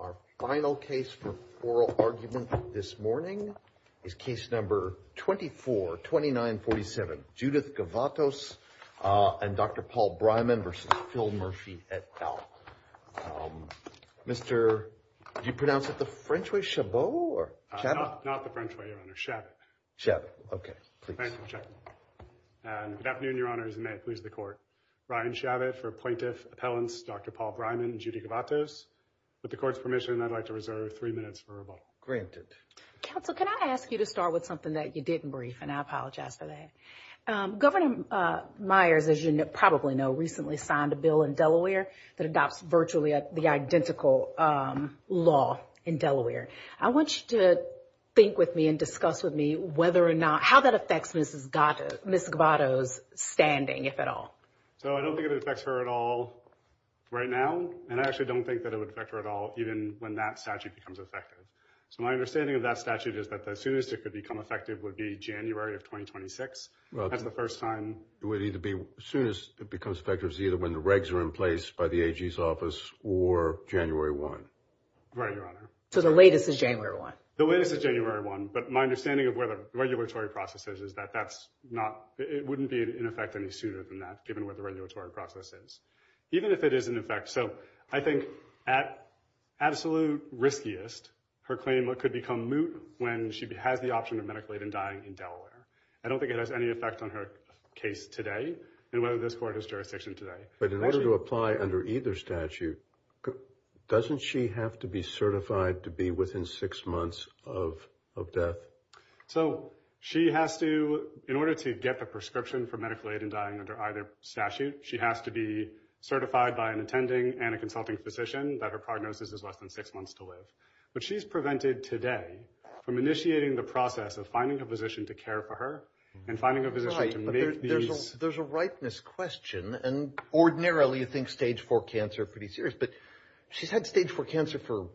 Our final case for oral argument this morning is case number 24-2947, Judith Govatos and Dr. Paul Breiman v. Phil Murphy, et al. Mr., did you pronounce it the French way, Chabot, or Chabot? Not the French way, Your Honor, Chabot. Chabot, okay. Thank you, Chabot. And good afternoon, Your Honors, and may it please the Court. Ryan Chabot for plaintiff, appellants Dr. Paul Breiman and Judy Govatos. With the Court's permission, I'd like to reserve three minutes for rebuttal. Counsel, can I ask you to start with something that you didn't brief, and I apologize for that. Governor Myers, as you probably know, recently signed a bill in Delaware that adopts virtually the identical law in Delaware. I want you to think with me and discuss with me whether or not, how that affects Ms. Govatos' standing, if at all. So, I don't think it affects her at all right now, and I actually don't think that it would affect her at all even when that statute becomes effective. So, my understanding of that statute is that the soonest it could become effective would be January of 2026. That's the first time. It would either be soonest it becomes effective is either when the regs are in place by the AG's office or January 1. Right, Your Honor. So, the latest is January 1? The latest is January 1, but my understanding of where the regulatory process is is that that's not, it wouldn't be in effect any sooner than that, given where the regulatory process is. Even if it is in effect, so, I think at absolute riskiest, her claim could become moot when she has the option of medically even dying in Delaware. I don't think it has any effect on her case today, and whether this court has jurisdiction today. But in order to apply under either statute, doesn't she have to be certified to be within six months of death? So, she has to, in order to get the prescription for medical aid in dying under either statute, she has to be certified by an attending and a consulting physician that her prognosis is less than six months to live. But she's prevented today from initiating the process of finding a physician to care for her and finding a physician to meet these. Right, but there's a ripeness question, and ordinarily you think stage four cancer are pretty serious, but she's had stage four cancer for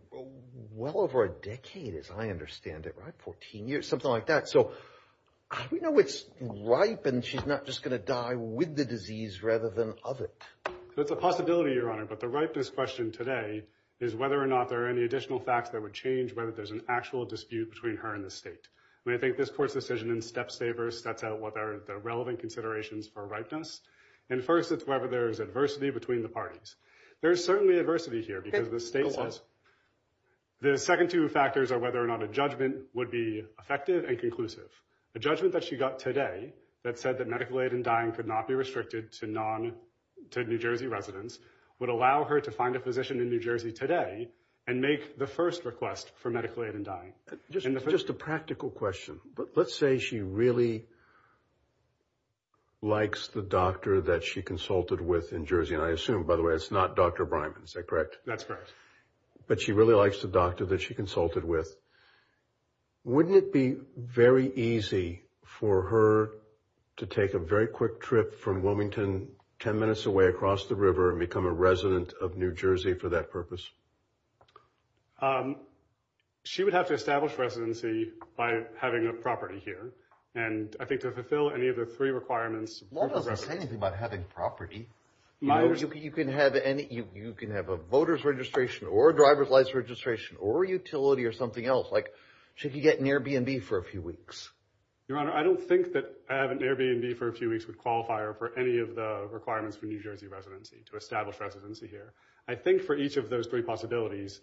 well over a decade as I understand it, right? Fourteen years, something like that. So, how do we know it's ripe and she's not just going to die with the disease rather than of it? So, it's a possibility, Your Honor, but the ripeness question today is whether or not there are any additional facts that would change whether there's an actual dispute between her and the state. I mean, I think this court's decision in step saver sets out what are the relevant considerations for ripeness. And first, it's whether there's adversity between the parties. There's certainly adversity here because the state says, the second two factors are whether or not a judgment would be effective and conclusive. A judgment that she got today that said that medical aid in dying could not be restricted to New Jersey residents would allow her to find a physician in New Jersey today and make the first request for medical aid in dying. Just a practical question, but let's say she really likes the doctor that she consulted with in Jersey, and I assume, by the way, it's not Dr. Bryman, is that correct? That's correct. But she really likes the doctor that she consulted with. Wouldn't it be very easy for her to take a very quick trip from Wilmington, 10 minutes away across the river, and become a resident of New Jersey for that purpose? She would have to establish residency by having a property here. And I think to fulfill any of the three requirements... Law doesn't say anything about having property. You can have a voter's registration, or a driver's license registration, or a utility or something else. Like, she could get an Airbnb for a few weeks. Your Honor, I don't think that having an Airbnb for a few weeks would qualify her for any of the requirements for New Jersey residency, to establish residency here. I think for each of those three possibilities,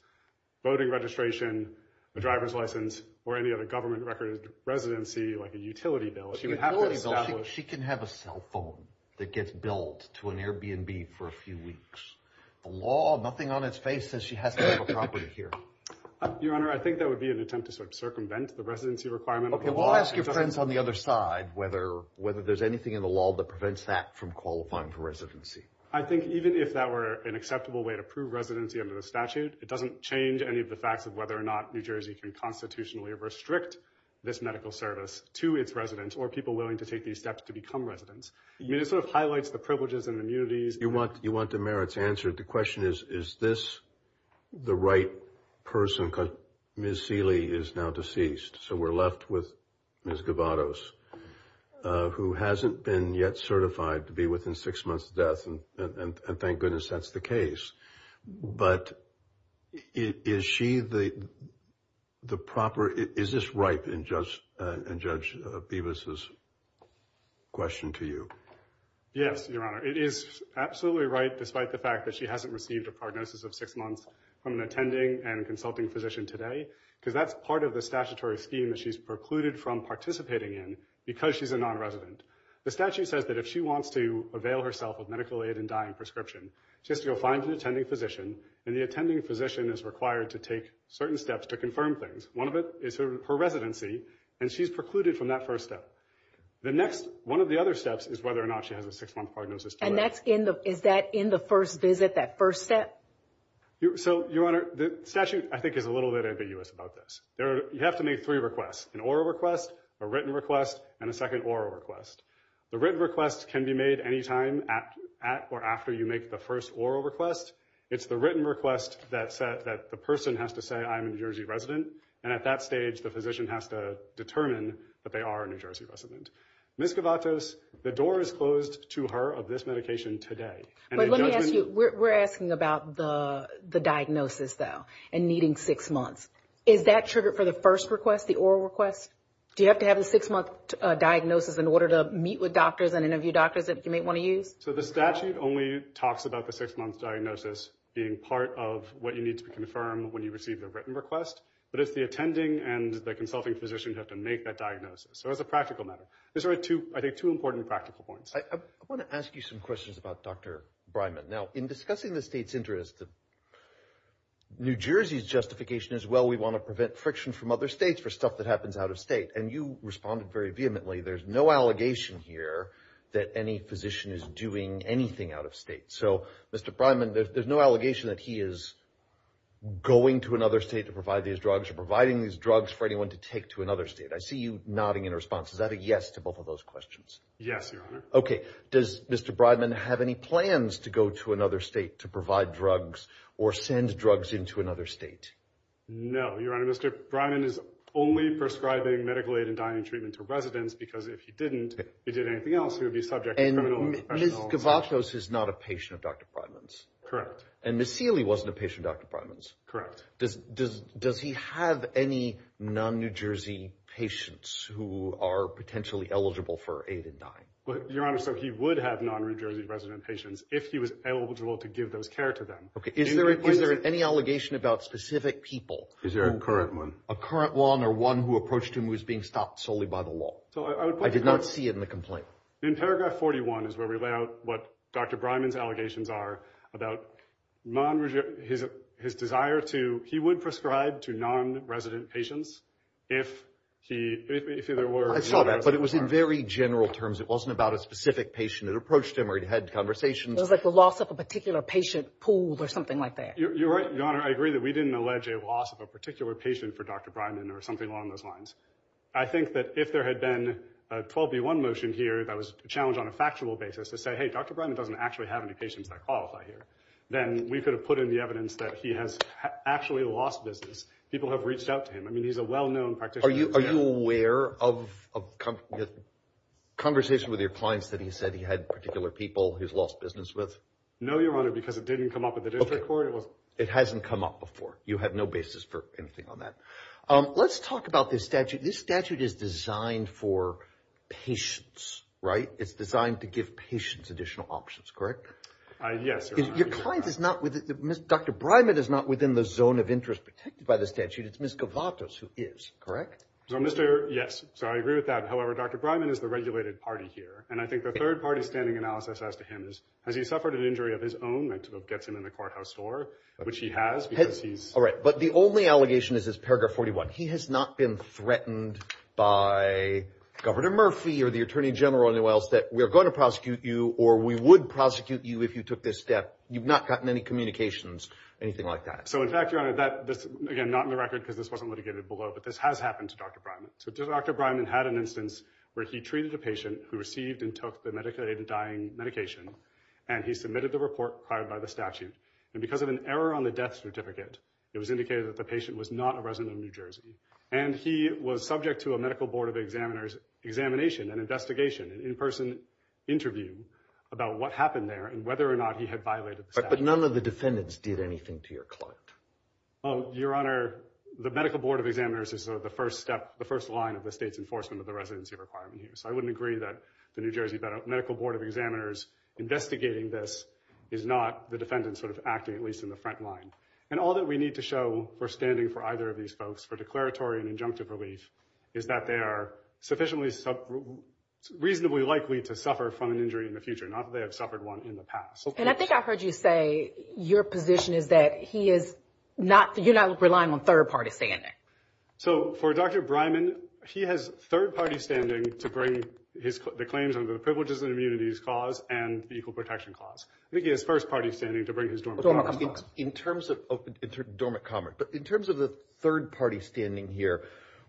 voting registration, a driver's license, or any other government-recorded residency, like a utility bill, she would have to establish... She can have a cell phone that gets billed to an Airbnb for a few weeks. The law, nothing on its face says she has to have a property here. Your Honor, I think that would be an attempt to sort of circumvent the residency requirement of the law. Okay, well I'll ask your friends on the other side whether there's anything in the law that prevents that from qualifying for residency. I think even if that were an acceptable way to prove residency under the statute, it doesn't change any of the facts of whether or not New Jersey can constitutionally restrict this medical service to its residents, or people willing to take these steps to become residents. It sort of highlights the privileges and immunities. You want the merits answered. The question is, is this the right person? Ms. Seeley is now deceased, so we're left with Ms. Gavados, who hasn't been yet certified to be within six months of death, and thank goodness that's the case. But, is she the proper, is this right in Judge Bevis' question to you? Yes, Your Honor. It is absolutely right, despite the fact that she hasn't received a prognosis of six months from an attending and consulting physician today, because that's part of the statutory scheme that she's precluded from participating in, because she's a non-resident. The statute says that if she wants to avail herself of medical aid and dying prescription, she has to go find an attending physician, and the attending physician is required to take certain steps to confirm things. One of it is her residency, and she's precluded from that first step. The next, one of the other steps, is whether or not she has a six-month prognosis. And that's in the, is that in the first visit, that first step? So, Your Honor, the statute, I think, is a little bit ambiguous about this. You have to make three requests, an oral request, a written request, and a second oral request. The written request can be made any time at or after you make the first oral request. It's the written request that the person has to say, I'm a New Jersey resident. And at that stage, the physician has to determine that they are a New Jersey resident. Ms. Gavatos, the door is closed to her of this medication today. But let me ask you, we're asking about the diagnosis, though, and needing six months. Is that triggered for the first request, the oral request? Do you have to have a six-month diagnosis in order to meet with doctors and interview doctors that you might want to use? So, the statute only talks about the six-month diagnosis being part of what you need to confirm when you receive the written request. But it's the attending and the consulting physician who have to make that diagnosis. So, it's a practical matter. These are two, I think, two important practical points. I want to ask you some questions about Dr. Breiman. Now, in discussing the state's interest, New Jersey's justification is, well, we want to prevent friction from other states for stuff that happens out of state. And you responded very vehemently, there's no allegation here that any physician is doing anything out of state. So, Mr. Breiman, there's no allegation that he is going to another state to provide these drugs or providing these drugs for anyone to take to another state. I see you nodding in response. Is that a yes to both of those questions? Yes, Your Honor. Okay. Does Mr. Breiman have any plans to go to another state to provide drugs or send drugs into another state? No, Your Honor. Mr. Breiman is only prescribing medical aid and dying treatment to residents because if he didn't, he did anything else. He would be subject to criminal and professional assault. And Ms. Gavatos is not a patient of Dr. Breiman's? Correct. And Ms. Seeley wasn't a patient of Dr. Breiman's? Correct. Does he have any non-New Jersey patients who are potentially eligible for aid in dying? Your Honor, so he would have non-New Jersey resident patients if he was eligible to give those care to them. Okay. Is there any allegation about specific people? Is there a current one? A current one or one who approached him who was being stopped solely by the law? I did not see it in the complaint. In paragraph 41 is where we lay out what Dr. Breiman's allegations are about his desire to, he would prescribe to non-resident patients if there were non-resident patients. I saw that, but it was in very general terms. It wasn't about a specific patient that approached him or he had conversations. It was like the loss of a particular patient pool or something like that. You're right, Your Honor. I agree that we didn't allege a loss of a particular patient for Dr. Breiman or something along those lines. I think that if there had been a 12B1 motion here that was challenged on a factual basis to say, hey, Dr. Breiman doesn't actually have any patients that qualify here, then we could have put in the evidence that he has actually lost business. People have reached out to him. I mean, he's a well-known practitioner. Are you aware of a conversation with your clients that he said he had particular people he's lost business with? No, Your Honor, because it didn't come up with the district court. It hasn't come up before. You have no basis for anything on that. Let's talk about this statute. This statute is designed for patients, right? It's designed to give patients additional options, correct? Yes. Your client is not, Dr. Breiman is not within the zone of interest protected by the statute. It's Ms. Gavatos who is, correct? Yes. So I agree with that. However, Dr. Breiman is the regulated party here. And I think the third-party standing analysis as to him is, has he suffered an injury of his own that gets him in the courthouse door, which he has because he's... All right, but the only allegation is this paragraph 41. He has not been threatened by Governor Murphy or the Attorney General anywhere else that we are going to prosecute you or we would prosecute you if you took this step. You've not gotten any communications, anything like that. So in fact, Your Honor, that, again, not in the record because this wasn't litigated below, but this has happened to Dr. Breiman. So Dr. Breiman had an instance where he treated a patient who received and took the medical aid in dying medication, and he submitted the report filed by the statute. And because of an error on the death certificate, it was indicated that the patient was not a resident of New Jersey. And he was subject to a Medical Board of Examiners examination and investigation, an in-person interview about what happened there and whether or not he had violated the statute. But none of the defendants did anything to your client? Your Honor, the Medical Board of Examiners is the first step, the first line of the state's enforcement of the residency requirement here. So I wouldn't agree that the New Jersey Medical Board of Examiners investigating this is not the defendants sort of acting, at least in the front line. And all that we need to show for standing for either of these folks for declaratory and injunctive relief is that they are sufficiently, reasonably likely to suffer from an injury in the future, not that they have suffered one in the past. And I think I heard you say your position is that he is not, you're not relying on third-party standing. So, for Dr. Breiman, he has third-party standing to bring the claims under the Privileges and Immunities Clause and the Equal Protection Clause. He has first-party standing to bring his Dormant Commerce Clause. In terms of Dormant Commerce, but in terms of the third-party standing here,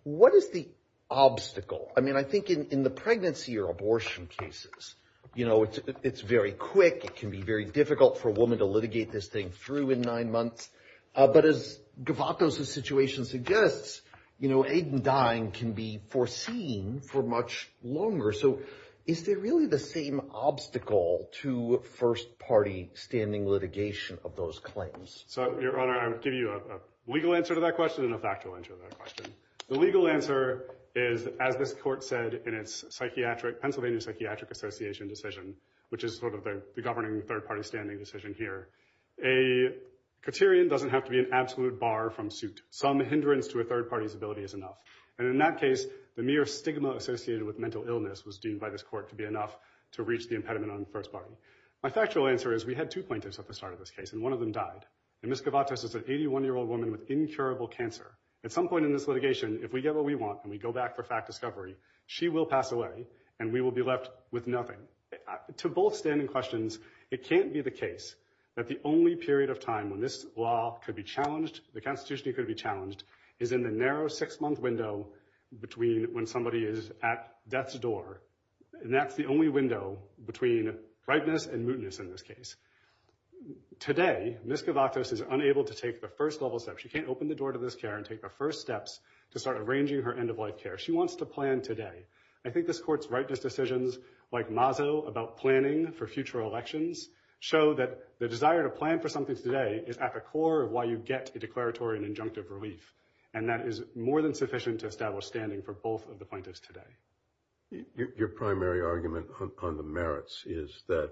what is the obstacle? I mean, I think in the pregnancy or abortion cases, you know, it's very quick, it can be very difficult for a woman to litigate this thing through in nine months. But as Govatos' situation suggests, you know, aid in dying can be foreseen for much longer. So, is there really the same obstacle to first-party standing litigation of those claims? So, Your Honor, I will give you a legal answer to that question and a factual answer to that question. The legal answer is, as this Court said in its psychiatric, Pennsylvania Psychiatric Association decision, which is sort of the governing third-party standing decision here, a criterion doesn't have to be an absolute bar from suit. Some hindrance to a third-party's ability is enough. And in that case, the mere stigma associated with mental illness was deemed by this Court to be enough to reach the impediment on the first party. My factual answer is, we had two plaintiffs at the start of this case, and one of them died. And Ms. Govatos is an 81-year-old woman with incurable cancer. At some point in this litigation, if we get what we want and we go back for fact discovery, she will pass away and we will be left with nothing. To both standing questions, it can't be the case that the only period of time when this law could be challenged, the Constitution could be challenged, is in the narrow six-month window between when somebody is at death's door. And that's the only window between brightness and mootness in this case. Today, Ms. Govatos is unable to take the first level steps. She can't open the door to this care and take the first steps to start arranging her end-of-life care. She wants to plan today. I think this Court's rightness decisions, like Mazzo, about planning for future elections, show that the desire to plan for something today is at the core of why you get a declaratory and injunctive relief. And that is more than sufficient to establish standing for both of the plaintiffs today. Your primary argument on the merits is that,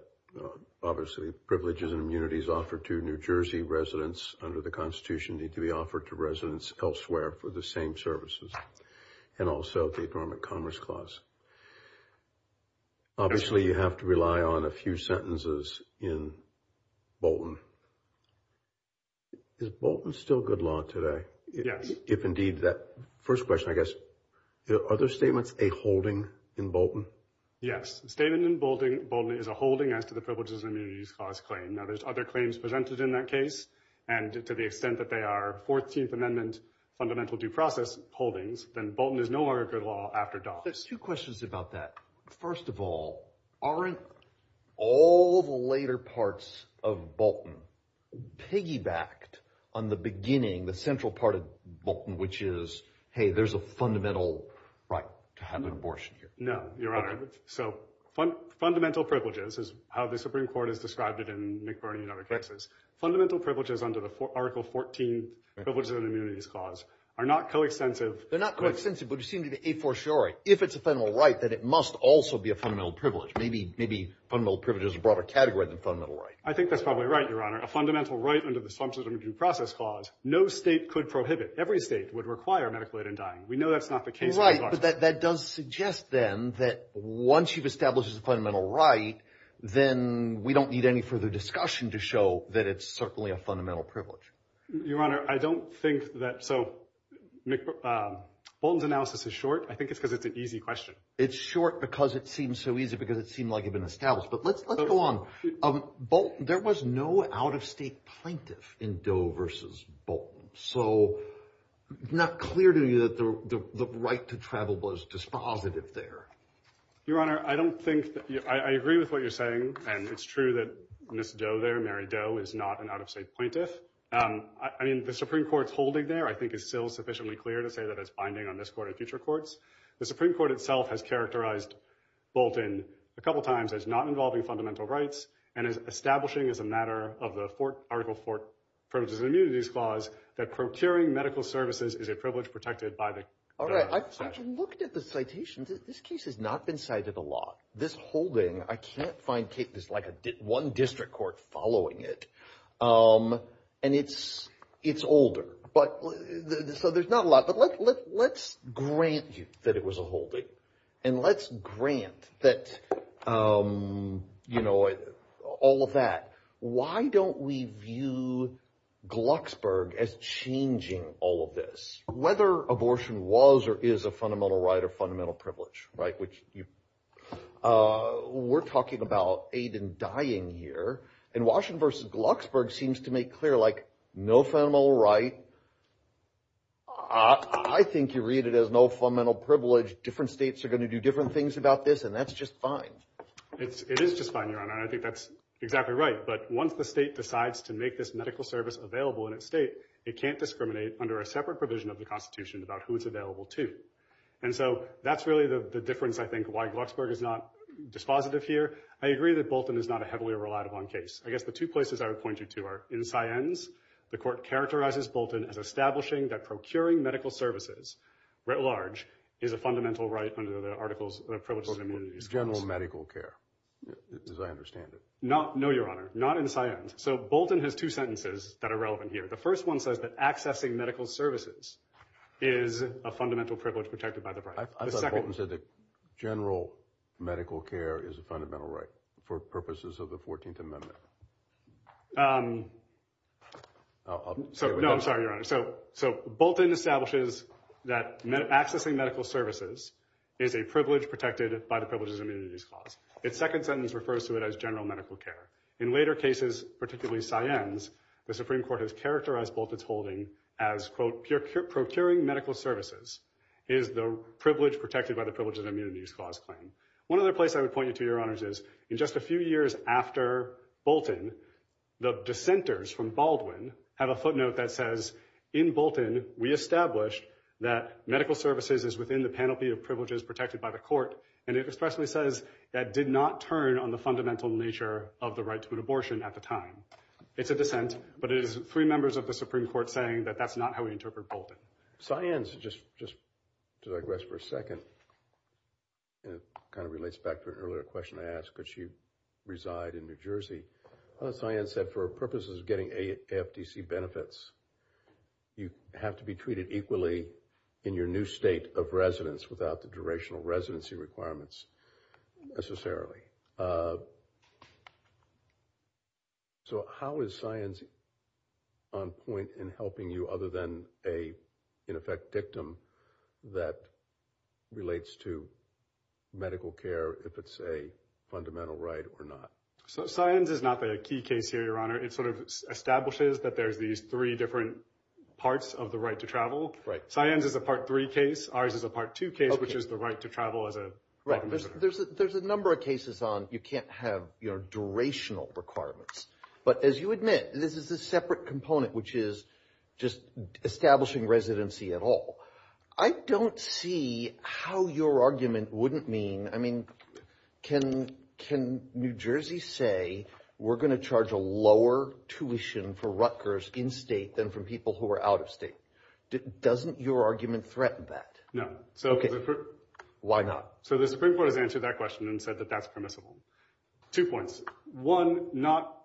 obviously, privileges and immunities offered to New Jersey residents under the Constitution need to be offered to residents elsewhere for the same services. And also, the Adornment Commerce Clause. Obviously, you have to rely on a few sentences in Bolton. Is Bolton still good law today? Yes. If indeed, that first question, I guess, are those statements a holding in Bolton? Yes. The statement in Bolton is a holding as to the privileges and immunities clause claim. Now, there's other claims presented in that case, and to the extent that they are 14th Amendment fundamental due process holdings, then Bolton is no longer good law after DoS. There's two questions about that. First of all, aren't all the later parts of Bolton piggybacked on the beginning, the central part of Bolton, which is, hey, there's a fundamental right to have an abortion here? No, Your Honor. So, fundamental privileges is how the Supreme Court has described it in McBurney and other cases. Fundamental privileges under the Article 14 Privileges and Immunities Clause are not co-extensive. They're not co-extensive, but you seem to be a-for-sure. If it's a fundamental right, then it must also be a fundamental privilege. Maybe fundamental privilege is a broader category than fundamental right. I think that's probably right, Your Honor. A fundamental right under the Substantive Due Process Clause, no state could prohibit. Every state would require medical aid in dying. We know that's not the case in Bolton. Right, but that does suggest, then, that once you've established a fundamental right, then we don't need any further discussion to show that it's certainly a fundamental privilege. Your Honor, I don't think that-so, Bolton's analysis is short. I think it's because it's an easy question. It's short because it seems so easy, because it seemed like it had been established. But let's go on. There was no out-of-state plaintiff in Doe versus Bolton. So, it's not clear to me that the right to travel was dispositive there. Your Honor, I don't think-I agree with what you're saying, and it's true that Ms. Doe there, Mary Doe, is not an out-of-state plaintiff. I mean, the Supreme Court's holding there, I think, is still sufficiently clear to say that it's binding on this Court and future courts. The Supreme Court itself has characterized Bolton a couple times as not involving fundamental rights, and is establishing as a matter of the Article IV, Privileges and Immunities Clause, that procuring medical services is a privilege protected by the- All right, I've looked at the citations. This case has not been cited a lot. This holding, I can't find-there's like one district court following it, and it's older. So, there's not a lot. But let's grant you that it was a holding, and let's grant that, you know, all of that. Why don't we view Glucksburg as changing all of this? Whether abortion was or is a fundamental right or fundamental privilege, right? Which you-we're talking about aid in dying here. And Washington v. Glucksburg seems to make clear, like, no fundamental right. I think you read it as no fundamental privilege. Different states are going to do different things about this, and that's just fine. It is just fine, Your Honor, and I think that's exactly right. But once the state decides to make this medical service available in its state, it can't under a separate provision of the Constitution about who it's available to. And so, that's really the difference, I think, why Glucksburg is not dispositive here. I agree that Bolton is not a heavily reliable case. I guess the two places I would point you to are in Siennes. The court characterizes Bolton as establishing that procuring medical services writ large is a fundamental right under the Articles of Privileges and Immunities. General medical care, as I understand it. No, Your Honor, not in Siennes. So, Bolton has two sentences that are relevant here. The first one says that accessing medical services is a fundamental privilege protected by the right. I thought Bolton said that general medical care is a fundamental right for purposes of the 14th Amendment. No, I'm sorry, Your Honor. So, Bolton establishes that accessing medical services is a privilege protected by the Privileges and Immunities Clause. Its second sentence refers to it as general medical care. In later cases, particularly Siennes, the Supreme Court has characterized Bolton's holding as, quote, procuring medical services is the privilege protected by the Privileges and Immunities Clause claim. One other place I would point you to, Your Honors, is in just a few years after Bolton, the dissenters from Baldwin have a footnote that says, in Bolton, we established that medical services is within the panoply of privileges protected by the court. And it expressly says that did not turn on the fundamental nature of the right to an abortion at the time. It's a dissent, but it is three members of the Supreme Court saying that that's not how we interpret Bolton. Siennes, just to digress for a second, and it kind of relates back to an earlier question I asked, could she reside in New Jersey? Siennes said for purposes of getting AFDC benefits, you have to be treated equally in your new state of residence without the durational residency requirements necessarily. So how is Siennes on point in helping you other than a, in effect, dictum that relates to medical care if it's a fundamental right or not? So Siennes is not the key case here, Your Honor. It sort of establishes that there's these three different parts of the right to travel. Siennes is a Part 3 case. Ours is a Part 2 case, which is the right to travel as a... There's a number of cases on, you can't have durational requirements. But as you admit, this is a separate component, which is just establishing residency at all. I don't see how your argument wouldn't mean, I mean, can New Jersey say we're going to charge a lower tuition for Rutgers in state than for people who are out of state? Doesn't your argument threaten that? No. Why not? So the Supreme Court has answered that question and said that that's permissible. Two points. One,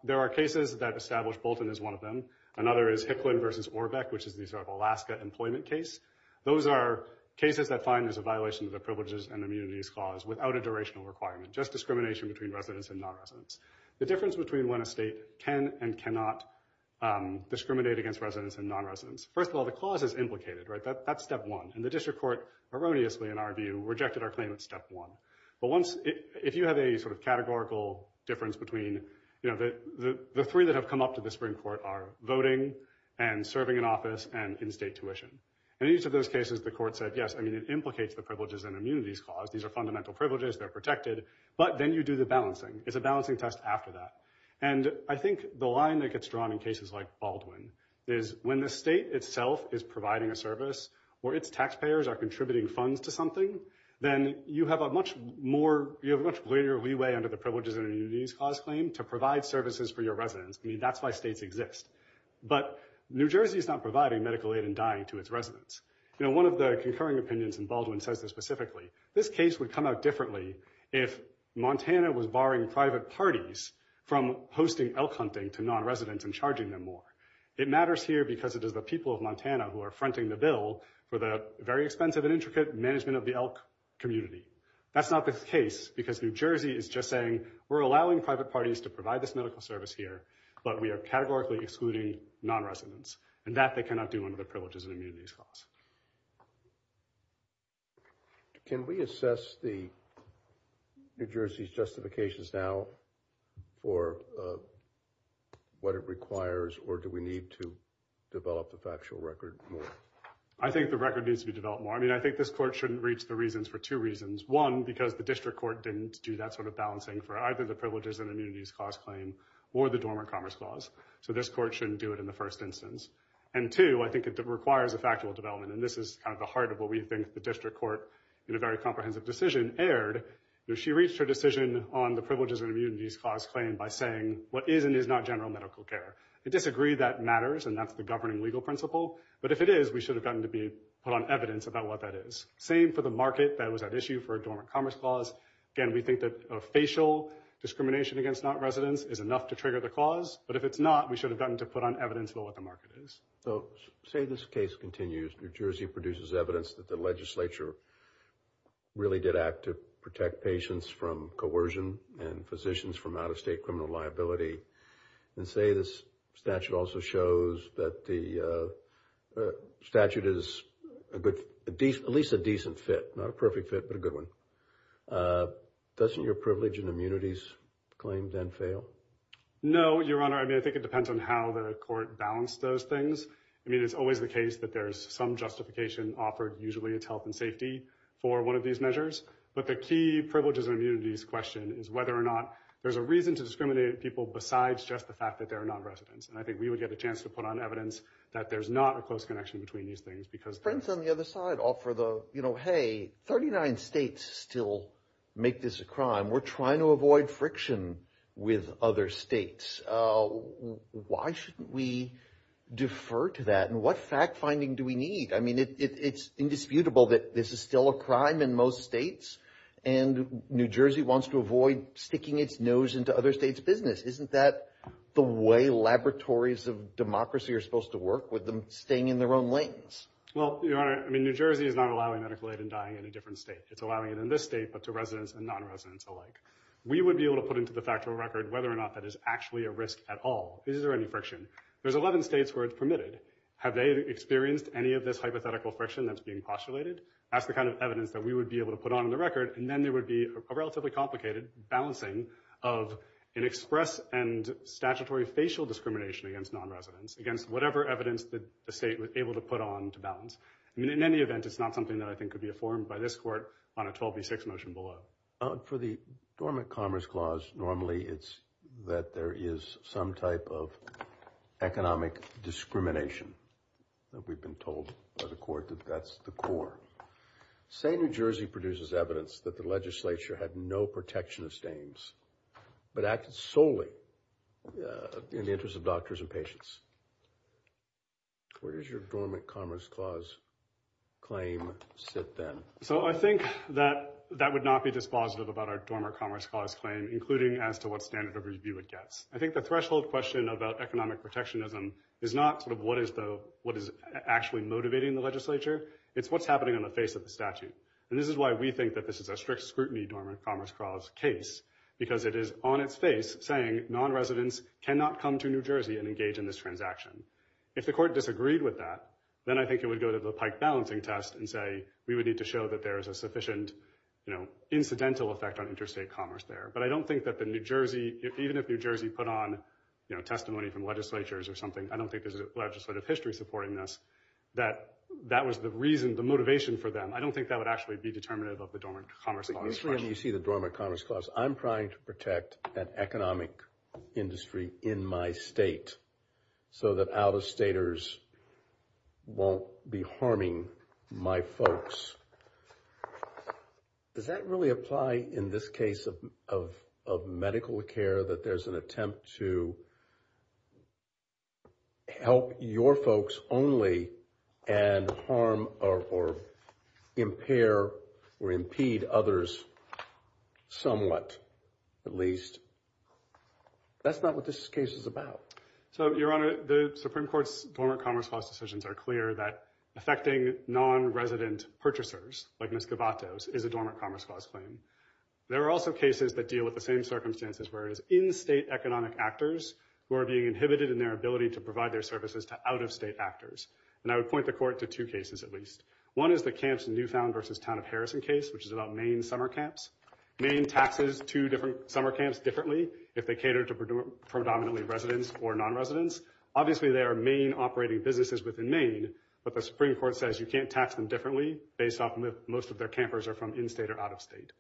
there are cases that establish Bolton as one of them. Another is Hicklin versus Orbeck, which is the Alaska employment case. Those are cases that find there's a violation of the Privileges and Immunities Clause without a durational requirement, just discrimination between residents and non-residents. The difference between when a state can and cannot discriminate against residents and non-residents, first of all, the clause is implicated, right? That's step one. And the district court, erroneously in our view, rejected our claim at step one. But if you have a sort of categorical difference between the three that have come up to the Supreme Court are voting and serving in office and in-state tuition. In each of those cases, the court said, yes, I mean, it implicates the Privileges and Immunities Clause. These are fundamental privileges. They're protected. But then you do the balancing. It's a balancing test after that. And I think the line that gets drawn in cases like Baldwin is when the state itself is providing a service or its taxpayers are contributing funds to something, then you have a much more, you have a much greater leeway under the Privileges and Immunities Clause claim to provide services for your residents. I mean, that's why states exist. But New Jersey is not providing medical aid and dying to its residents. You know, one of the concurring opinions in Baldwin says this specifically. This case would come out differently if Montana was barring private parties from hosting elk hunting to non-residents and charging them more. It matters here because it is the people of Montana who are fronting the bill for the very expensive and intricate management of the elk community. That's not the case, because New Jersey is just saying, we're allowing private parties to provide this medical service here, but we are categorically excluding non-residents. And that they cannot do under the Privileges and Immunities Clause. Can we assess New Jersey's justifications now for what it requires, or do we need to develop the factual record more? I think the record needs to be developed more. I mean, I think this Court shouldn't reach the reasons for two reasons. One, because the District Court didn't do that sort of balancing for either the Privileges and Immunities Clause claim or the Dormant Commerce Clause. So this Court shouldn't do it in the first instance. And two, I think it requires a factual development. And this is kind of the heart of what we think the District Court, in a very comprehensive decision, aired. She reached her decision on the Privileges and Immunities Clause claim by saying what is and is not general medical care. I disagree that matters, and that's the governing legal principle. But if it is, we should have gotten to put on evidence about what that is. Same for the market that was at issue for a Dormant Commerce Clause. Again, we think that a facial discrimination against non-residents is enough to trigger the clause. But if it's not, we should have gotten to put on evidence about what the market is. So, say this case continues. New Jersey produces evidence that the legislature really did act to protect patients from coercion and physicians from out-of-state criminal liability. And say this statute also shows that the statute is at least a decent fit. Not a perfect fit, but a good one. Doesn't your Privileges and Immunities Claim then fail? No, Your Honor. I mean, I think it depends on how the court balanced those things. I mean, it's always the case that there's some justification offered, usually it's health and safety, for one of these measures. But the key Privileges and Immunities question is whether or not there's a reason to discriminate people besides just the fact that they're non-residents. And I think we would get a chance to put on evidence that there's not a close connection between these things. Because friends on the other side offer the, you know, hey, 39 states still make this a crime. We're trying to avoid friction with other states. Why shouldn't we defer to that? And what fact-finding do we need? I mean, it's indisputable that this is still a crime in most states. And New Jersey wants to avoid sticking its nose into other states' business. Isn't that the way laboratories of democracy are supposed to work, with them staying in their own lanes? Well, Your Honor, I mean, New Jersey is not allowing medical aid in dying in a different state. It's allowing it in this state, but to residents and non-residents alike. We would be able to put into the factual record whether or not that is actually a risk at all. Is there any friction? There's 11 states where it's permitted. Have they experienced any of this hypothetical friction that's being postulated? That's the kind of evidence that we would be able to put on in the record. And then there would be a relatively complicated balancing of an express and statutory facial discrimination against non-residents, against whatever evidence that the state was able to put on to balance. In any event, it's not something that I think could be informed by this Court on a 12v6 motion below. For the Dormant Commerce Clause, normally it's that there is some type of economic discrimination. We've been told by the Court that that's the core. Say New Jersey produces evidence that the legislature had no protectionist aims, but acted solely in the interest of doctors and patients. Where does your Dormant Commerce Clause claim sit then? So I think that would not be dispositive about our Dormant Commerce Clause claim, including as to what standard of review it gets. I think the threshold question about economic protectionism is not what is actually motivating the legislature, it's what's happening on the face of the statute. And this is why we think that this is a strict scrutiny Dormant Commerce Clause case, because it is on its face saying non-residents cannot come to New Jersey and engage in this transaction. If the Court disagreed with that, then I think it would go to the Pike balancing test and say we would need to show that there is a sufficient incidental effect on interstate commerce there. But I don't think that even if New Jersey put on testimony from legislatures or something, I don't think there's a legislative history supporting this, that that was the reason, the motivation for them. I don't think that would actually be determinative of the Dormant Commerce Clause. When you see the Dormant Commerce Clause, I'm trying to protect an economic industry in my state, so that out-of-staters won't be harming my folks. Does that really apply in this case of medical care that there's an attempt to help your folks only and harm or impair or impede others somewhat, at least? That's not what this case is about. So, Your Honor, the Supreme Court's Dormant Commerce Clause decisions are clear that affecting non-resident purchasers, like misquivatos, is a Dormant Commerce Clause claim. There are also cases that deal with the same circumstances where it is in-state economic actors who are being inhibited in their ability to provide their services to out-of-state actors. And I would point the Court to two cases, at least. One is the Camps Newfound versus Town of Harrison case, which is about Maine summer camps. Maine taxes two different summer camps differently if they cater to predominantly residents or non-residents. Obviously, they are Maine-operating businesses within Maine, but the Supreme Court says you can't tax them differently based on if most of their campers are from in-state or out-of-state.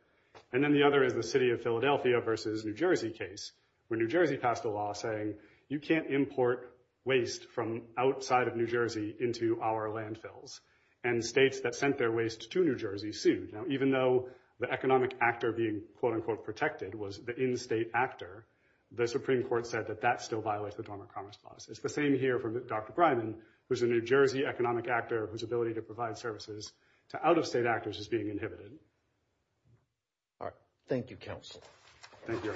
And then the other is the City of Philadelphia versus New Jersey case, where New Jersey passed a law saying you can't import waste from outside of New Jersey into our landfills. And states that sent their waste to New Jersey sued. Now, even though the economic actor being, quote-unquote, protected was the in-state actor, the Supreme Court said that that still violates the Dormant Commerce Clause. It's the same here for Dr. Breiman, who's a New Jersey economic actor whose ability to provide services to out-of-state actors is being inhibited. All right. Thank you, counsel. Thank you.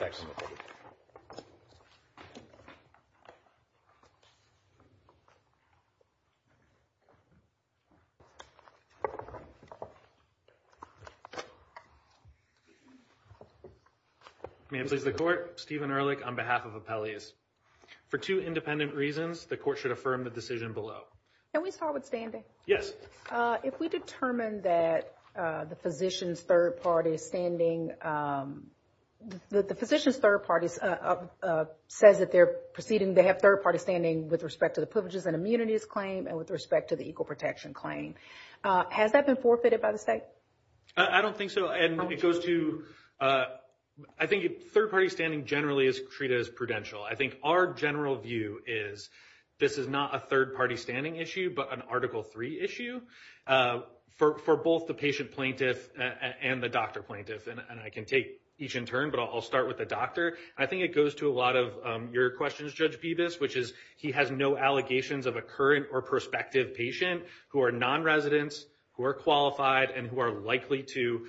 May it please the Court. Stephen Ehrlich on behalf of Appellees. For two independent reasons, the Court should affirm the decision below. Can we start with standing? Yes. If we determine that the physician's third party is standing, the physician's third party says that they're proceeding, they have third party standing with respect to the privileges and immunities claim and with respect to the with respect to the equal protection claim. Has that been forfeited by the state? I don't think so. And it goes to, I think third party standing generally is treated as prudential. I think our general view is this is not a third party standing issue, but an Article 3 issue for both the patient plaintiff and the doctor plaintiff. And I can take each in turn, but I'll start with the doctor. I think it goes to a lot of your questions, Judge Bevis, which is he has no allegations of a current or prospective patient who are non-residents, who are qualified, and who are likely to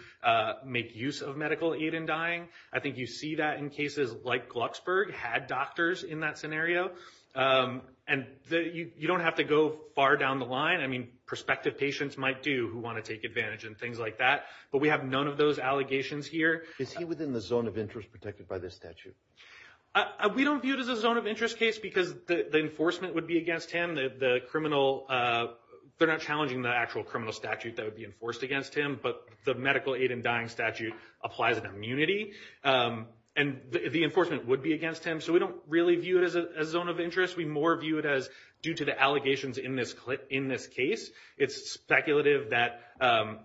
make use of medical aid in dying. I think you see that in cases like Glucksburg had doctors in that scenario. And you don't have to go far down the line. I mean, prospective patients might do who want to take advantage and things like that. But we have none of those allegations here. Is he within the zone of interest protected by this statute? We don't view it as a zone of interest case because the enforcement would be against him. The criminal, you know, they're not challenging the actual criminal statute that would be enforced against him, but the medical aid in dying statute applies an immunity. And the enforcement would be against him. So we don't really view it as a zone of interest. We more view it as due to the allegations in this case. It's speculative that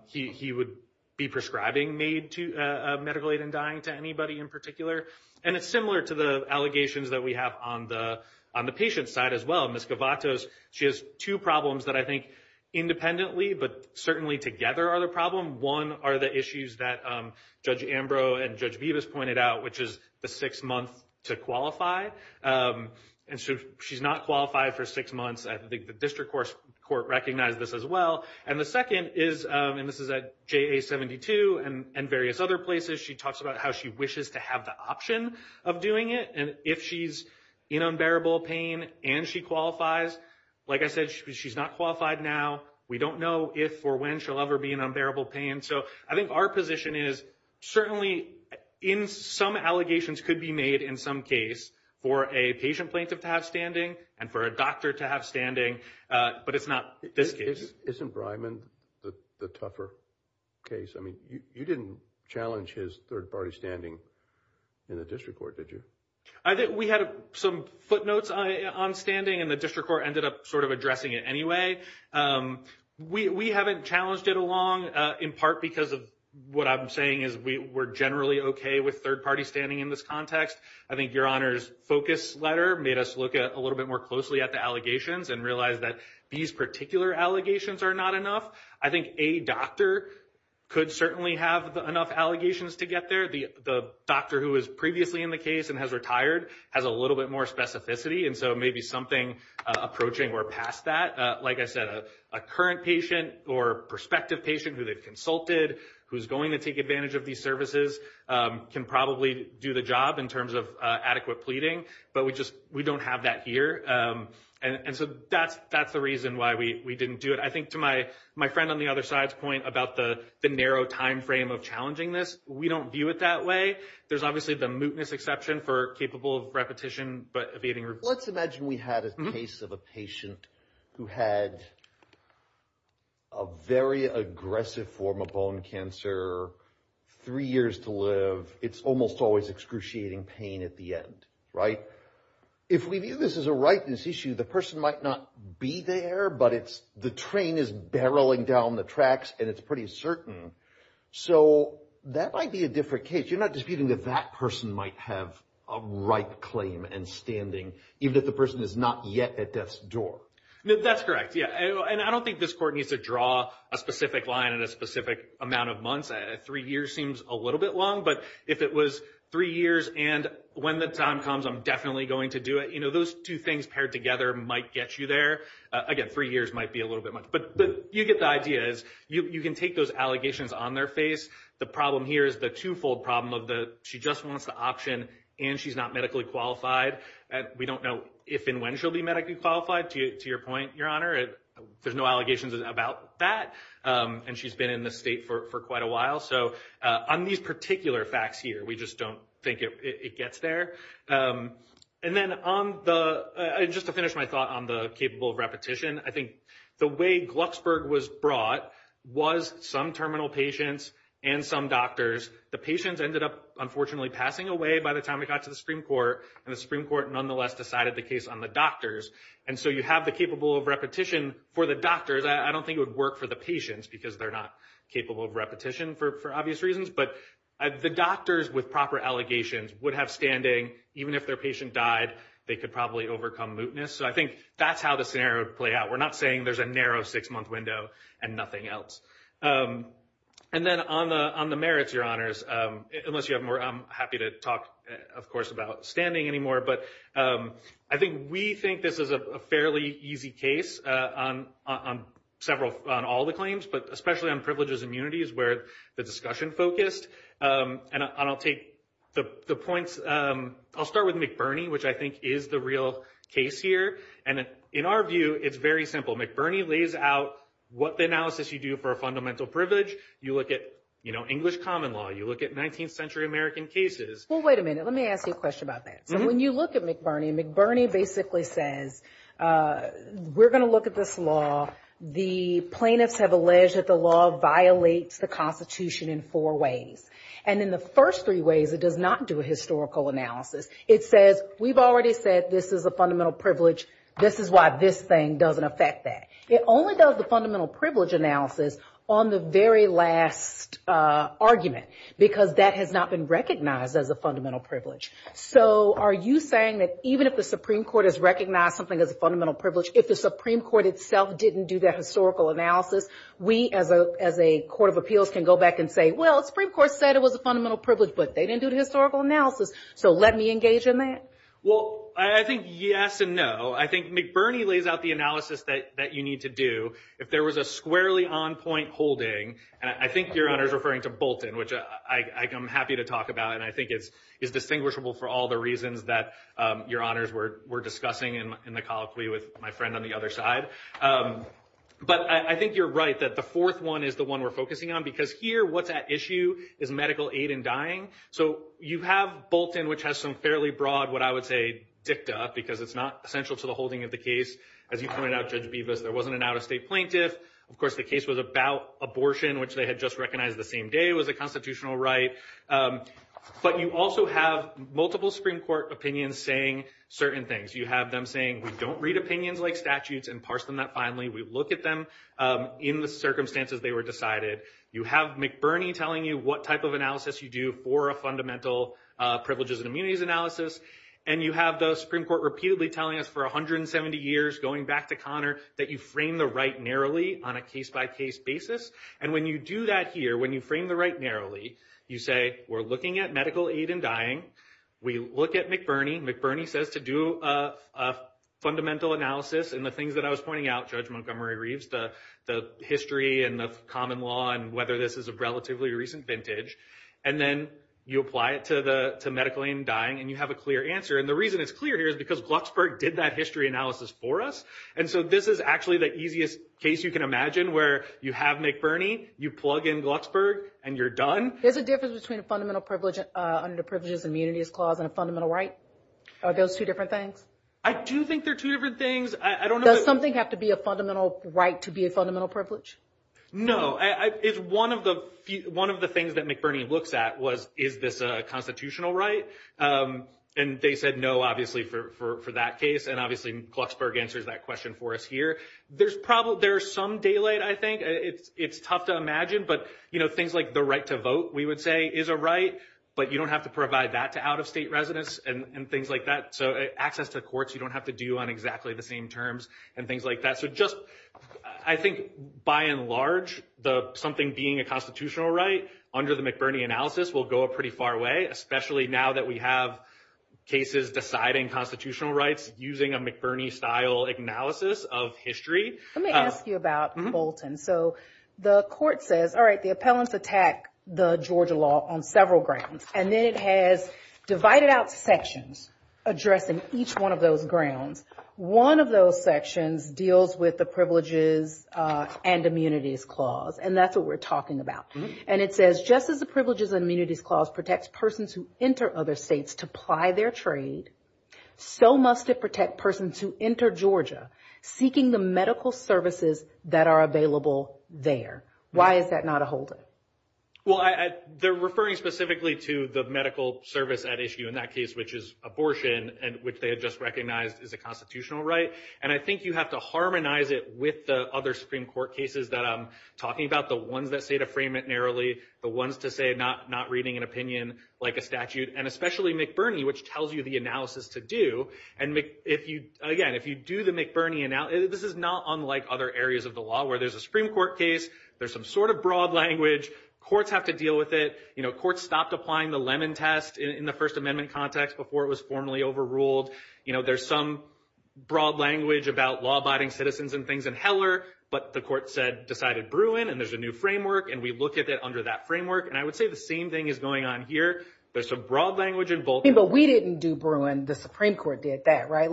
he would be prescribing medical aid in dying to anybody in particular. And it's similar to the allegations that we have on the patient side as well. Ms. Gavatos, she has two problems that I think independently but certainly together are the problem. One are the issues that Judge Ambrose and Judge Bevis pointed out, which is the six months to qualify. And so she's not qualified for six months. I think the district court recognized this as well. And the second is, and this is at JA-72 and various other places, she talks about how she wishes to have the option of doing it. And if she's in unbearable pain and she qualifies, like I said, she's not qualified We don't know if or when she'll ever be in unbearable pain. So I think our position is certainly in some allegations could be made in some case for a patient plaintiff to have standing and for a doctor to have standing. But it's not this case. Isn't Breiman the tougher case? I mean, you didn't challenge his third-party standing in the district court, did you? I think we had some footnotes on standing and the district court ended up sort of addressing it anyway. We haven't challenged it along, in part because of what I'm saying is we're generally okay with third-party standing in this context. I think Your Honor's focus letter made us look a little bit more closely at the allegations and realize that these particular allegations are not enough. I think a doctor could certainly have enough allegations to get there. The doctor who was previously in the case and has retired has a little bit more specificity. And so maybe something approaching or past that, like I said, a current patient or prospective patient who they've consulted, who's going to take advantage of these services, can probably do the job in terms of adequate pleading. But we just, we don't have that here. And so that's the reason why we didn't do it. I think to my friend on the other side's point about the narrow time frame of challenging this, we don't view it that way. There's obviously the mootness exception for capable repetition, but evading... Let's imagine we had a case of a patient who had a very aggressive form of bone cancer, three years to live. It's almost always excruciating pain at the end. Right? If we view this as a rightness issue, the person might not be there, but the train is barreling down the tracks and it's pretty certain. So that might be a different case. You're not disputing that that person might have a right claim and standing, even if the person is not yet at death's door. That's correct, yeah. And I don't think this court needs to draw a specific line and a specific amount of months. Three years seems a little bit long, but if it was three years and when the time comes I'm definitely going to do it, those two things paired together might get you there. Again, three years might be a little bit much. But you get the idea. You can take those allegations on their face. The problem here is the two-fold problem of the she just wants the option and she's not medically qualified. We don't know if and when she'll be medically qualified, to your point, Your Honor. There's no allegations about that. And she's been in the state for quite a while. So on these particular facts here we just don't think it gets there. And then on the, just to finish my thought on the capable of repetition, I think the way Glucksburg was brought was some terminal patients and some doctors. The patients ended up unfortunately passing away by the time we got to the Supreme Court. And the Supreme Court nonetheless decided the case on the doctors. And so you have the capable of repetition for the doctors. I don't think it would work for the patients because they're not capable of repetition for obvious reasons. But the doctors with proper allegations would have standing even if their patient died. They could probably overcome mootness. So I think that's how the scenario would play out. We're not saying there's a narrow six-month window and nothing else. And then on the merits, unless you have more, I'm happy to talk, of course, about standing anymore. But I think we think this is a fairly easy case on all the claims, but especially on privileges and immunities where the discussion focused. And I'll take the points. I'll start with McBurney, which I think is the real case here. And in our view, it's very simple. McBurney lays out what the analysis you do for a fundamental privilege. You look at English common law. You look at 19th century American cases. Well, wait a minute. Let me ask you a question about that. So when you look at McBurney, McBurney basically says, we're going to look at this law. The plaintiffs have alleged that the law violates the Constitution in four ways. And in the first three ways, it does not do a historical analysis. It says, we've already said this is a fundamental privilege. This is why this thing doesn't affect that. It only does the fundamental privilege analysis on the very last argument because that has not been recognized as a fundamental privilege. So are you saying that even if the Supreme Court has recognized something as a fundamental privilege, if the Supreme Court itself didn't do that historical analysis, we as a court of appeals can go back and say, well, the Supreme Court said it was a fundamental privilege, but they didn't do the historical analysis. So let me engage in that. Well, I think yes and no. I think McBurney lays out the analysis that you need to do. If there was a squarely on-point holding, and I think Your Honor is referring to Bolton, which I'm happy to talk about, and I think it's distinguishable for all the reasons that Your Honors were discussing in the colloquy with my friend on the other side. But I think you're right that the fourth one is the one we're focusing on because here what's at issue is medical aid in dying. So you have Bolton, which has some fairly broad what I would say dicta because it's not essential to the holding of the case. As you pointed out, Judge Bevis, there wasn't an out-of-state plaintiff. Of course, the case was about abortion, which they had just recognized the same day was a constitutional right. But you also have multiple Supreme Court opinions saying certain things. You have them saying we don't read opinions like statutes and parse them that finely. We look at them in the circumstances they were decided. You have McBurney telling you what type of analysis you do for a fundamental privileges and immunities analysis. And you have the Supreme Court repeatedly telling us for 170 years going back to Connor that you frame the right narrowly on a case-by-case basis. And when you do that here, when you frame the right narrowly, you say we're looking at medical aid in dying. We look at McBurney. McBurney says to do a fundamental analysis in the things that I was pointing out, Judge Montgomery Reeves, the history and the common law and whether this is a relatively recent vintage. And then you apply it to medical aid in dying, and you have a clear answer. And the reason it's clear here is because Glucksburg did that history analysis for us. And so this is actually the easiest case you can imagine where you have McBurney, you plug in Glucksburg, and you're done. There's a difference between a fundamental privilege under the Privileges and Immunities Clause and a fundamental right? Are those two different things? I do think they're two different things. Does something have to be a fundamental right to be a fundamental privilege? No. One of the things that McBurney looks at was, is this a constitutional right? And they said no, obviously, for that case. And obviously, Glucksburg answers that question for us here. There's some daylight, I think. It's tough to imagine. But, you know, sometimes the right to vote, we would say, is a right, but you don't have to provide that to out-of-state residents and things like that. So access to courts, you don't have to do on exactly the same terms and things like that. So just, I think, by and large, something being a constitutional right under the McBurney analysis will go a pretty far way, especially now that we have cases deciding constitutional rights using a McBurney-style analysis of history. Let me ask you about Bolton. So the court says, all right, the appellants attack the Georgia law on several grounds. And then it has divided out sections addressing each one of those grounds. One of those sections deals with the Privileges and Immunities Clause. And that's what we're talking about. And it says, just as the Privileges and Immunities Clause protects persons who enter other states to ply their trade, so must it protect persons who enter Georgia seeking the medical services that are available there. Why is that not a holdup? Well, they're referring specifically to the medical service at issue in that case, which is abortion, which they had just recognized as a constitutional right. And I think you have to harmonize it with the other Supreme Court cases that I'm talking about, the ones that say to frame it narrowly, the ones to say not reading an opinion like a statute, and especially McBurney, which tells you the analysis to do. And again, if you do the McBurney analysis, this is not unlike other areas of the law where there's a Supreme Court case, there's some sort of broad language, courts have to deal with it. Courts stopped applying the Lemon Test in the First Amendment context before it was formally overruled. There's some broad language about law-abiding citizens and things in Heller, but the court decided Bruin and there's a new framework, and we look at it under that framework. And I would say the same thing is going on here. There's some broad language involved. But we didn't do Bruin. The Supreme Court did that, right?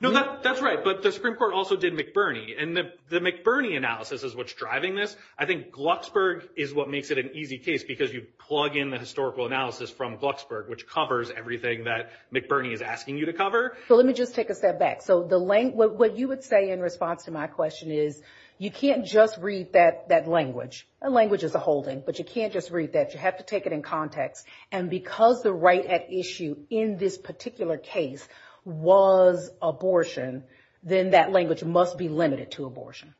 No, that's right. But the Supreme Court also did McBurney. And the McBurney analysis is what's driving this. I think Glucksburg is what makes it an easy case because you plug in the historical analysis from Glucksburg, which covers everything that McBurney is asking you to cover. So let me just take a step back. So what you would say in response to my question is you can't just read that language. Language is a holding, but you can't just read that. You have to take it in context. And because the right at issue in this particular case was abortion, then that language must be limited to abortion.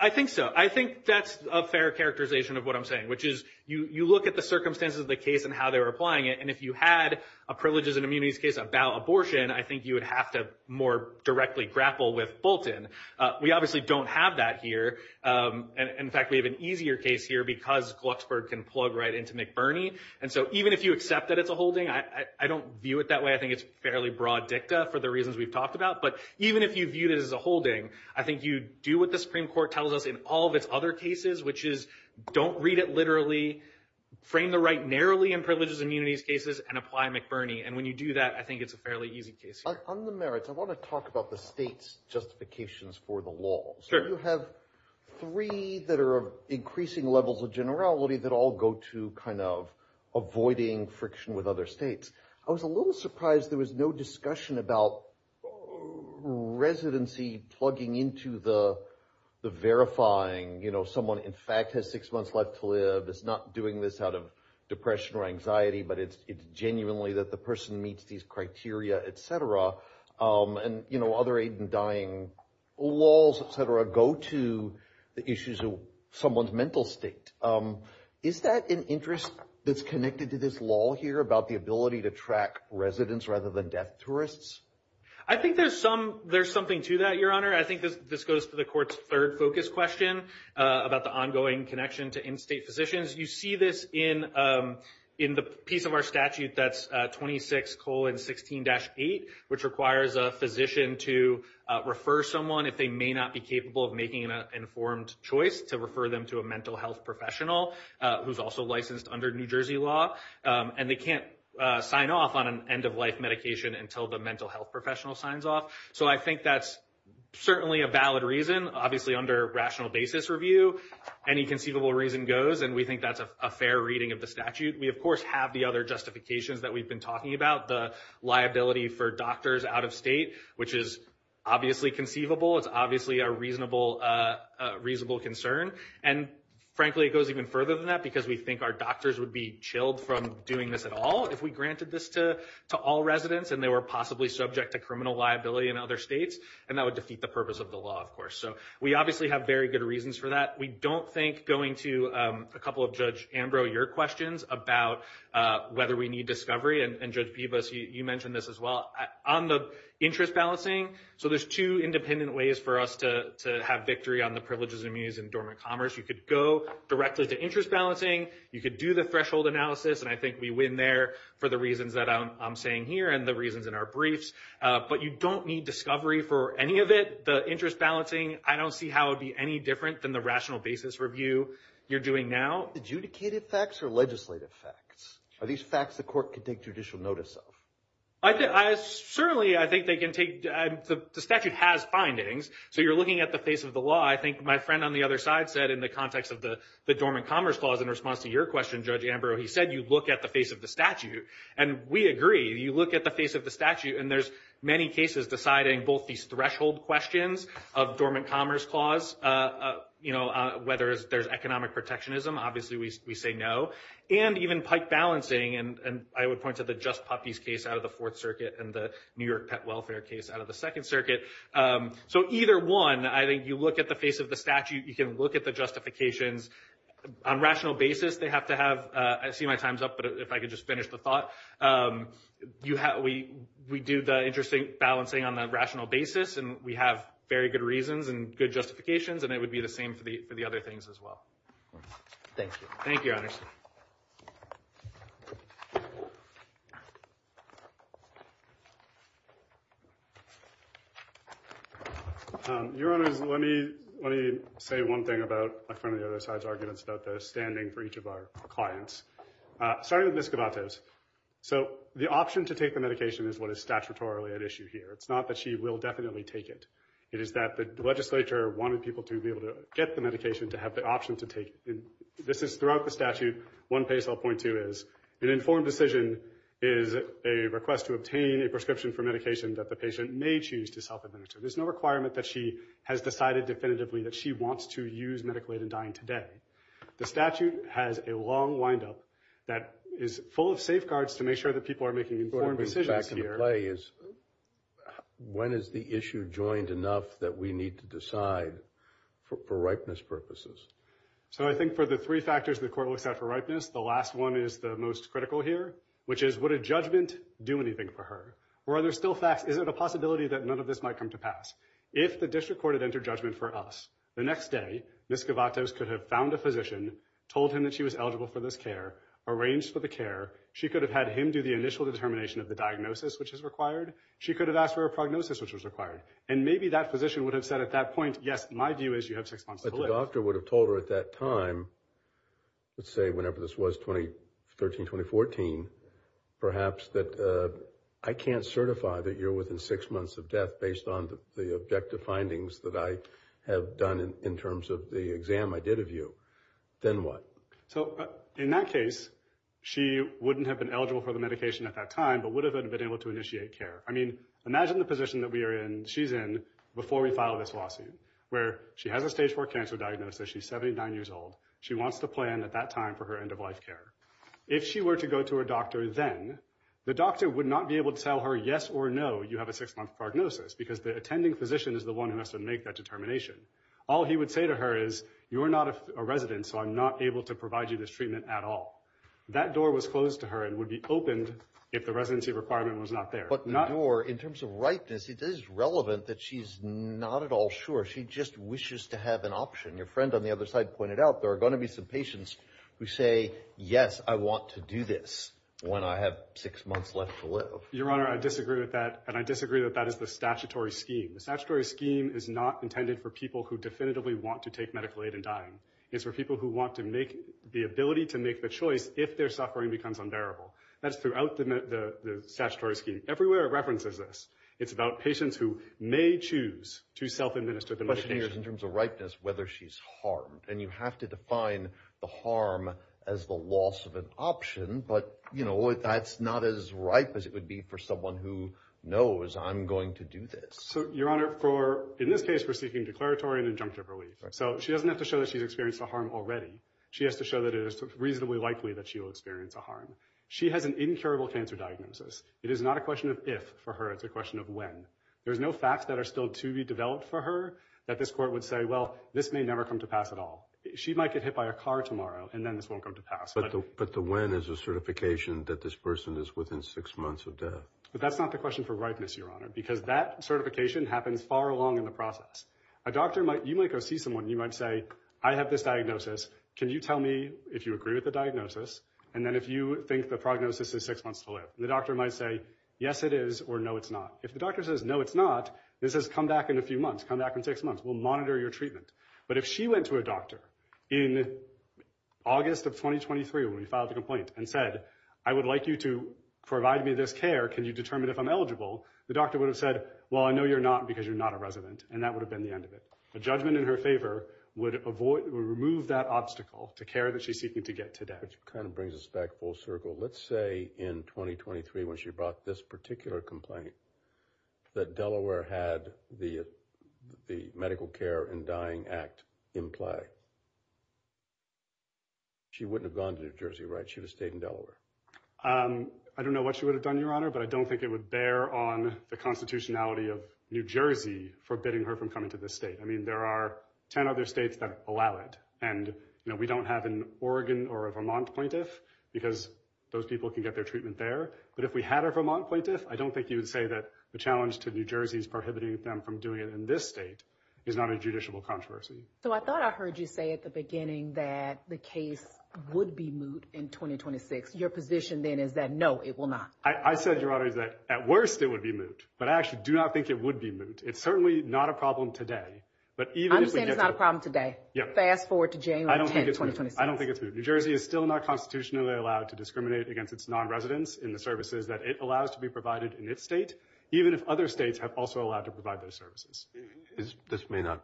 I think so. I think that's a fair characterization of what I'm saying, which is you look at the circumstances of the case and how they were applying it. And if you had a privileges and immunities case about abortion, I think you would have to more directly grapple with Bolton. We obviously don't have that here. And in fact, we have an easier case here because Glucksburg can plug right into McBurney. And so even if you accept that it's a holding, I don't view it that way. I think it's fairly broad dicta for the reasons we've talked about. But even if you viewed it as a holding, I think you do what the Supreme Court tells us in all of its other cases, which is don't read it literally. Frame the right narrowly in privileges and immunities cases and apply McBurney. And when you do that, I think it's a fairly easy case. On the merits, I want to talk about the state's justifications for the law. Sure. You have three that are increasing levels of generality that all go to kind of avoiding friction with other states. I was a little surprised there was no discussion about residency plugging into the verifying, someone in fact has six months left to live. It's not doing this out of depression or anxiety, but it's genuinely that the person meets these criteria, et cetera. And, you know, other aid in dying laws, et cetera, go to the issues of someone's mental state. Is that an interest that's connected to this law here about the ability to track residents rather than deaf tourists? I think there's some, there's something to that, your honor. I think this goes to the court's third focus question about the ongoing connection to in-state physicians. You see this in, in the piece of our statute, that's 26 colon 16 dash eight, which requires a physician to refer someone if they may not be capable of making an informed choice to refer them to a mental health professional who's also licensed under New Jersey law. And they can't sign off on an end of life medication until the mental health professional signs off. So I think that's certainly a valid reason, obviously under rational basis review, any conceivable reason goes, and we think that's a fair reading of the statute. We of course have the other justifications that we've been talking about, the liability for doctors out of state, which is obviously conceivable. It's obviously a reasonable concern. And frankly, it goes even further than that because we think our doctors would be chilled from doing this at all if we granted this to all residents and they were possibly subject to criminal liability in other states, and that would defeat the purpose of the law, of course. So we obviously have very good reasons for that. We don't think going to a couple of Judge Ambrose, your questions about whether we need discovery and Judge Pivas, you mentioned this as well, on the interest balancing. So there's two independent ways for us to have victory on the privileges and means in dormant commerce. You could go directly to interest balancing, you could do the threshold analysis, and I think we win there for the reasons that I'm saying here and the reasons in our briefs. But you don't need discovery for any of it. The interest balancing, I don't see how it would be any different than the rational basis review you're doing now. Adjudicated facts or legislative facts? Are these facts the court could take judicial notice of? Certainly, I think they can take... The statute has findings, so you're looking at the face of the law. I think my friend on the other side said in the context of the dormant commerce clause in response to your question, Judge Ambrose, he said you look at the face of the statute. And we agree. You look at the face of the statute and there's many cases deciding both these threshold questions of dormant commerce clause, whether there's economic protectionism, obviously we say no, and even pike balancing. And I would point to the Just Puppies case out of the Fourth Circuit and the New York Pet Welfare case out of the Second Circuit. So either one, I think you look at the face of the statute, you can look at the justifications. On rational basis, they have to have... I see my time's up, but if I could just finish the thought. We do the interesting balancing on the rational basis and we have very good reasons and good justifications and it would be the same for the other things as well. Thank you. Thank you, Your Honors. Your Honors, let me say one thing about my friend on the other side's arguments about the standing for each of our clients. Starting with Ms. Gavatos. So the option to take the medication is what is statutorily at issue here. It's not that she will definitely take it. It is that the legislature wanted people to be able to get the medication to have the option to take it. This is throughout the statute, one place I'll point to is an informed decision is a request to obtain a prescription for medication that the patient may choose to self-administer. There's no requirement that she has decided definitively that she wants to use The statute has a long wind-up that is full of safeguards to make sure that people are making informed decisions here. So I think for the three factors the court looks at for ripeness, the last one is the most critical here, which is would a judgment do anything for her? Or are there still facts? Is it a possibility that none of this might come to pass? If the district court had entered judgment for us, the next day, Ms. Gavatos could have found a physician, told him that she was eligible for this care, arranged for the care. She could have had him do the initial determination of the diagnosis which is required. She could have asked for a prognosis which was required. And maybe that physician would have said at that point, yes, my view is you have six months to live. But the doctor would have told her at that time, let's say whenever this was 2013-2014, perhaps that I can't certify that you're within six months of death based on the objective findings that I have done in terms of the exam I did of you. Then what? So in that case, she wouldn't have been eligible for the medication at that time, but would have been able to initiate care. I mean, imagine the position that we are in, she's in, before we file this lawsuit, where she has a stage four cancer diagnosis, she's 79 years old, she wants to plan at that time for her end of life care. If she were to go to her doctor then, the doctor would not be able to tell her, yes or no, you have a six month prognosis because the attending physician is the one who has to make that determination. All he would say to her is, you're not a resident, so I'm not able to provide you this treatment at all. That door was closed to her and would be opened if the residency requirement was not there. But the door, in terms of ripeness, it is relevant that she's not at all sure. She just wishes to have an option. Your friend on the other side pointed out there are going to be some patients who say, yes, I want to do this when I have six months left to live. Your Honor, I disagree with that, and I disagree that that is the statutory scheme. The statutory scheme is not intended for people who definitively want to take medical aid in dying. It's for people who want to make, the ability to make the choice if their suffering becomes unbearable. That's throughout the statutory scheme. Everywhere it references this. It's about patients who may choose to self-administer the medication. The question here is, in terms of ripeness, whether she's harmed. And you have to define the harm as the loss of an option, but that's not as ripe as it would be for someone who knows, I'm going to do this. Your Honor, in this case, we're seeking declaratory and injunctive relief. She doesn't have to show that she's experienced a harm already. She has to show that it is reasonably likely that she will experience a harm. She has an incurable cancer diagnosis. It is not a question of if for her. It's a question of when. There's no facts that are still to be developed for her that this court would say, well, this may never come to pass at all. She might get hit by a car tomorrow, and then this won't come to pass. But the when is a certification that this person is within six months of death. But that's not the question for ripeness, Your Honor, because that certification happens far along in the process. A doctor might, you might go see someone, and you might say, I have this diagnosis. Can you tell me if you agree with the diagnosis? And then if you think the prognosis is six months to live, the doctor might say, yes, it is, or no, it's not. If the doctor says, no, it's not, this has come back in a few months, come back in six months. We'll monitor your treatment. But if she went to a doctor in August of 2023, when we filed the complaint, and said, I would like you to provide me this care. Can you determine if I'm eligible? The doctor would have said, well, I know you're not, because you're not a resident. And that would have been the end of it. A judgment in her favor would avoid, would remove that obstacle to care that she's seeking to get today. Which kind of brings us back full circle. Let's say in 2023, when she brought this particular complaint, that Delaware had the, the Medical Care and Dying Act in play. She wouldn't have gone to New Jersey, right? She would have stayed in Delaware. I don't know what she would have done, Your Honor, but I don't think it would bear on the constitutionality of New Jersey, forbidding her from coming to this state. I mean, there are 10 other states that allow it. And, you know, we don't have an Oregon or a Vermont plaintiff, because those people can get their treatment there. But if we had a Vermont plaintiff, I don't think you would say that the challenge to New Jersey is prohibiting them from doing it in this state, is not a judiciable controversy. So I thought I heard you say at the beginning that the case would be moot in 2026. Your position then is that, no, it will not. I said, Your Honor, that at worst it would be moot, but I actually do not think it would be moot. It's certainly not a problem today, but even if we get to- I'm saying it's not a problem today. Yeah. Fast forward to January 10, 2026. I don't think it's moot. I don't think it's moot. New Jersey is still not constitutionally allowed to discriminate against its non-residents in the services that it allows to be provided in its state, even if other states have also allowed to provide those services. This may not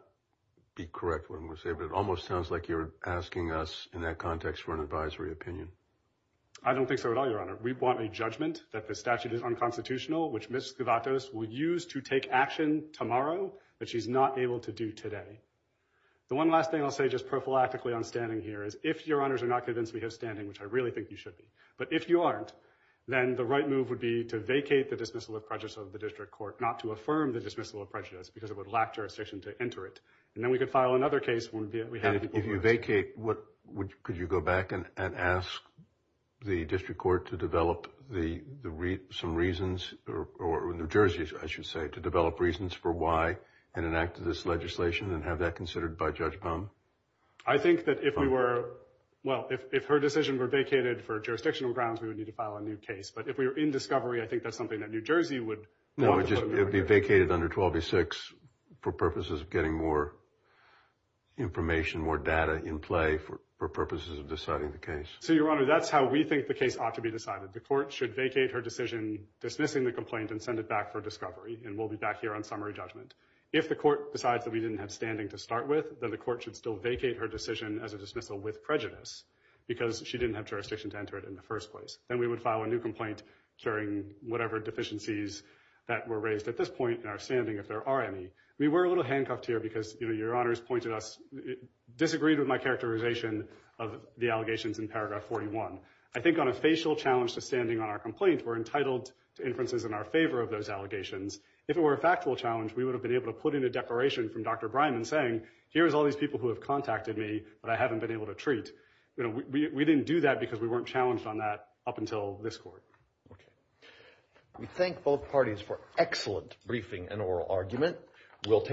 be correct what I'm going to say, but it almost sounds like you're asking us in that context for an advisory opinion. I don't think so at all, Your Honor. We want a judgment that the statute is unconstitutional, which Ms. Skivatos will use to take action tomorrow that she's not able to do today. The one last thing I'll say just prophylactically on standing here is, if Your Honors are not convinced we have standing, which I really think you should be, but if you aren't, then the right move would be to vacate the dismissal of prejudice of the district court, not to affirm the dismissal of prejudice because it would lack jurisdiction to enter it. And then we could file another case when we have- And if you vacate, could you go back and ask the district court to develop some reasons, or New Jersey, I should say, to develop reasons for why and enact this legislation and have that considered by Judge Baum? I think that if we were- Well, if her decision were vacated for jurisdictional grounds, we would need to file a new case. But if we were in discovery, I think that's something that New Jersey would- No, it would be vacated under 1286 for purposes of getting more information, more data in play for purposes of deciding the case. So, Your Honor, that's how we think the case ought to be decided. The court should vacate her decision, dismissing the complaint, and send it back for discovery, and we'll be back here on summary judgment. If the court decides that we didn't have standing to start with, then the court should still vacate her decision as a dismissal with prejudice because she didn't have jurisdiction to enter it in the first place. Then we would file a new complaint curing whatever deficiencies that were raised at this point in our standing, if there are any. We were a little handcuffed here because Your Honor has pointed us- Disagreed with my characterization of the allegations in paragraph 41. I think on a facial challenge to standing on our complaint, we're entitled to inferences in our favor of those allegations. If it were a factual challenge, we would have been able to put in a declaration from Dr. Bryman saying, here's all these people who have contacted me, but I haven't been able to treat. We didn't do that because we weren't challenged on that up until this court. Okay. We thank both parties for excellent briefing and oral argument. We'll take-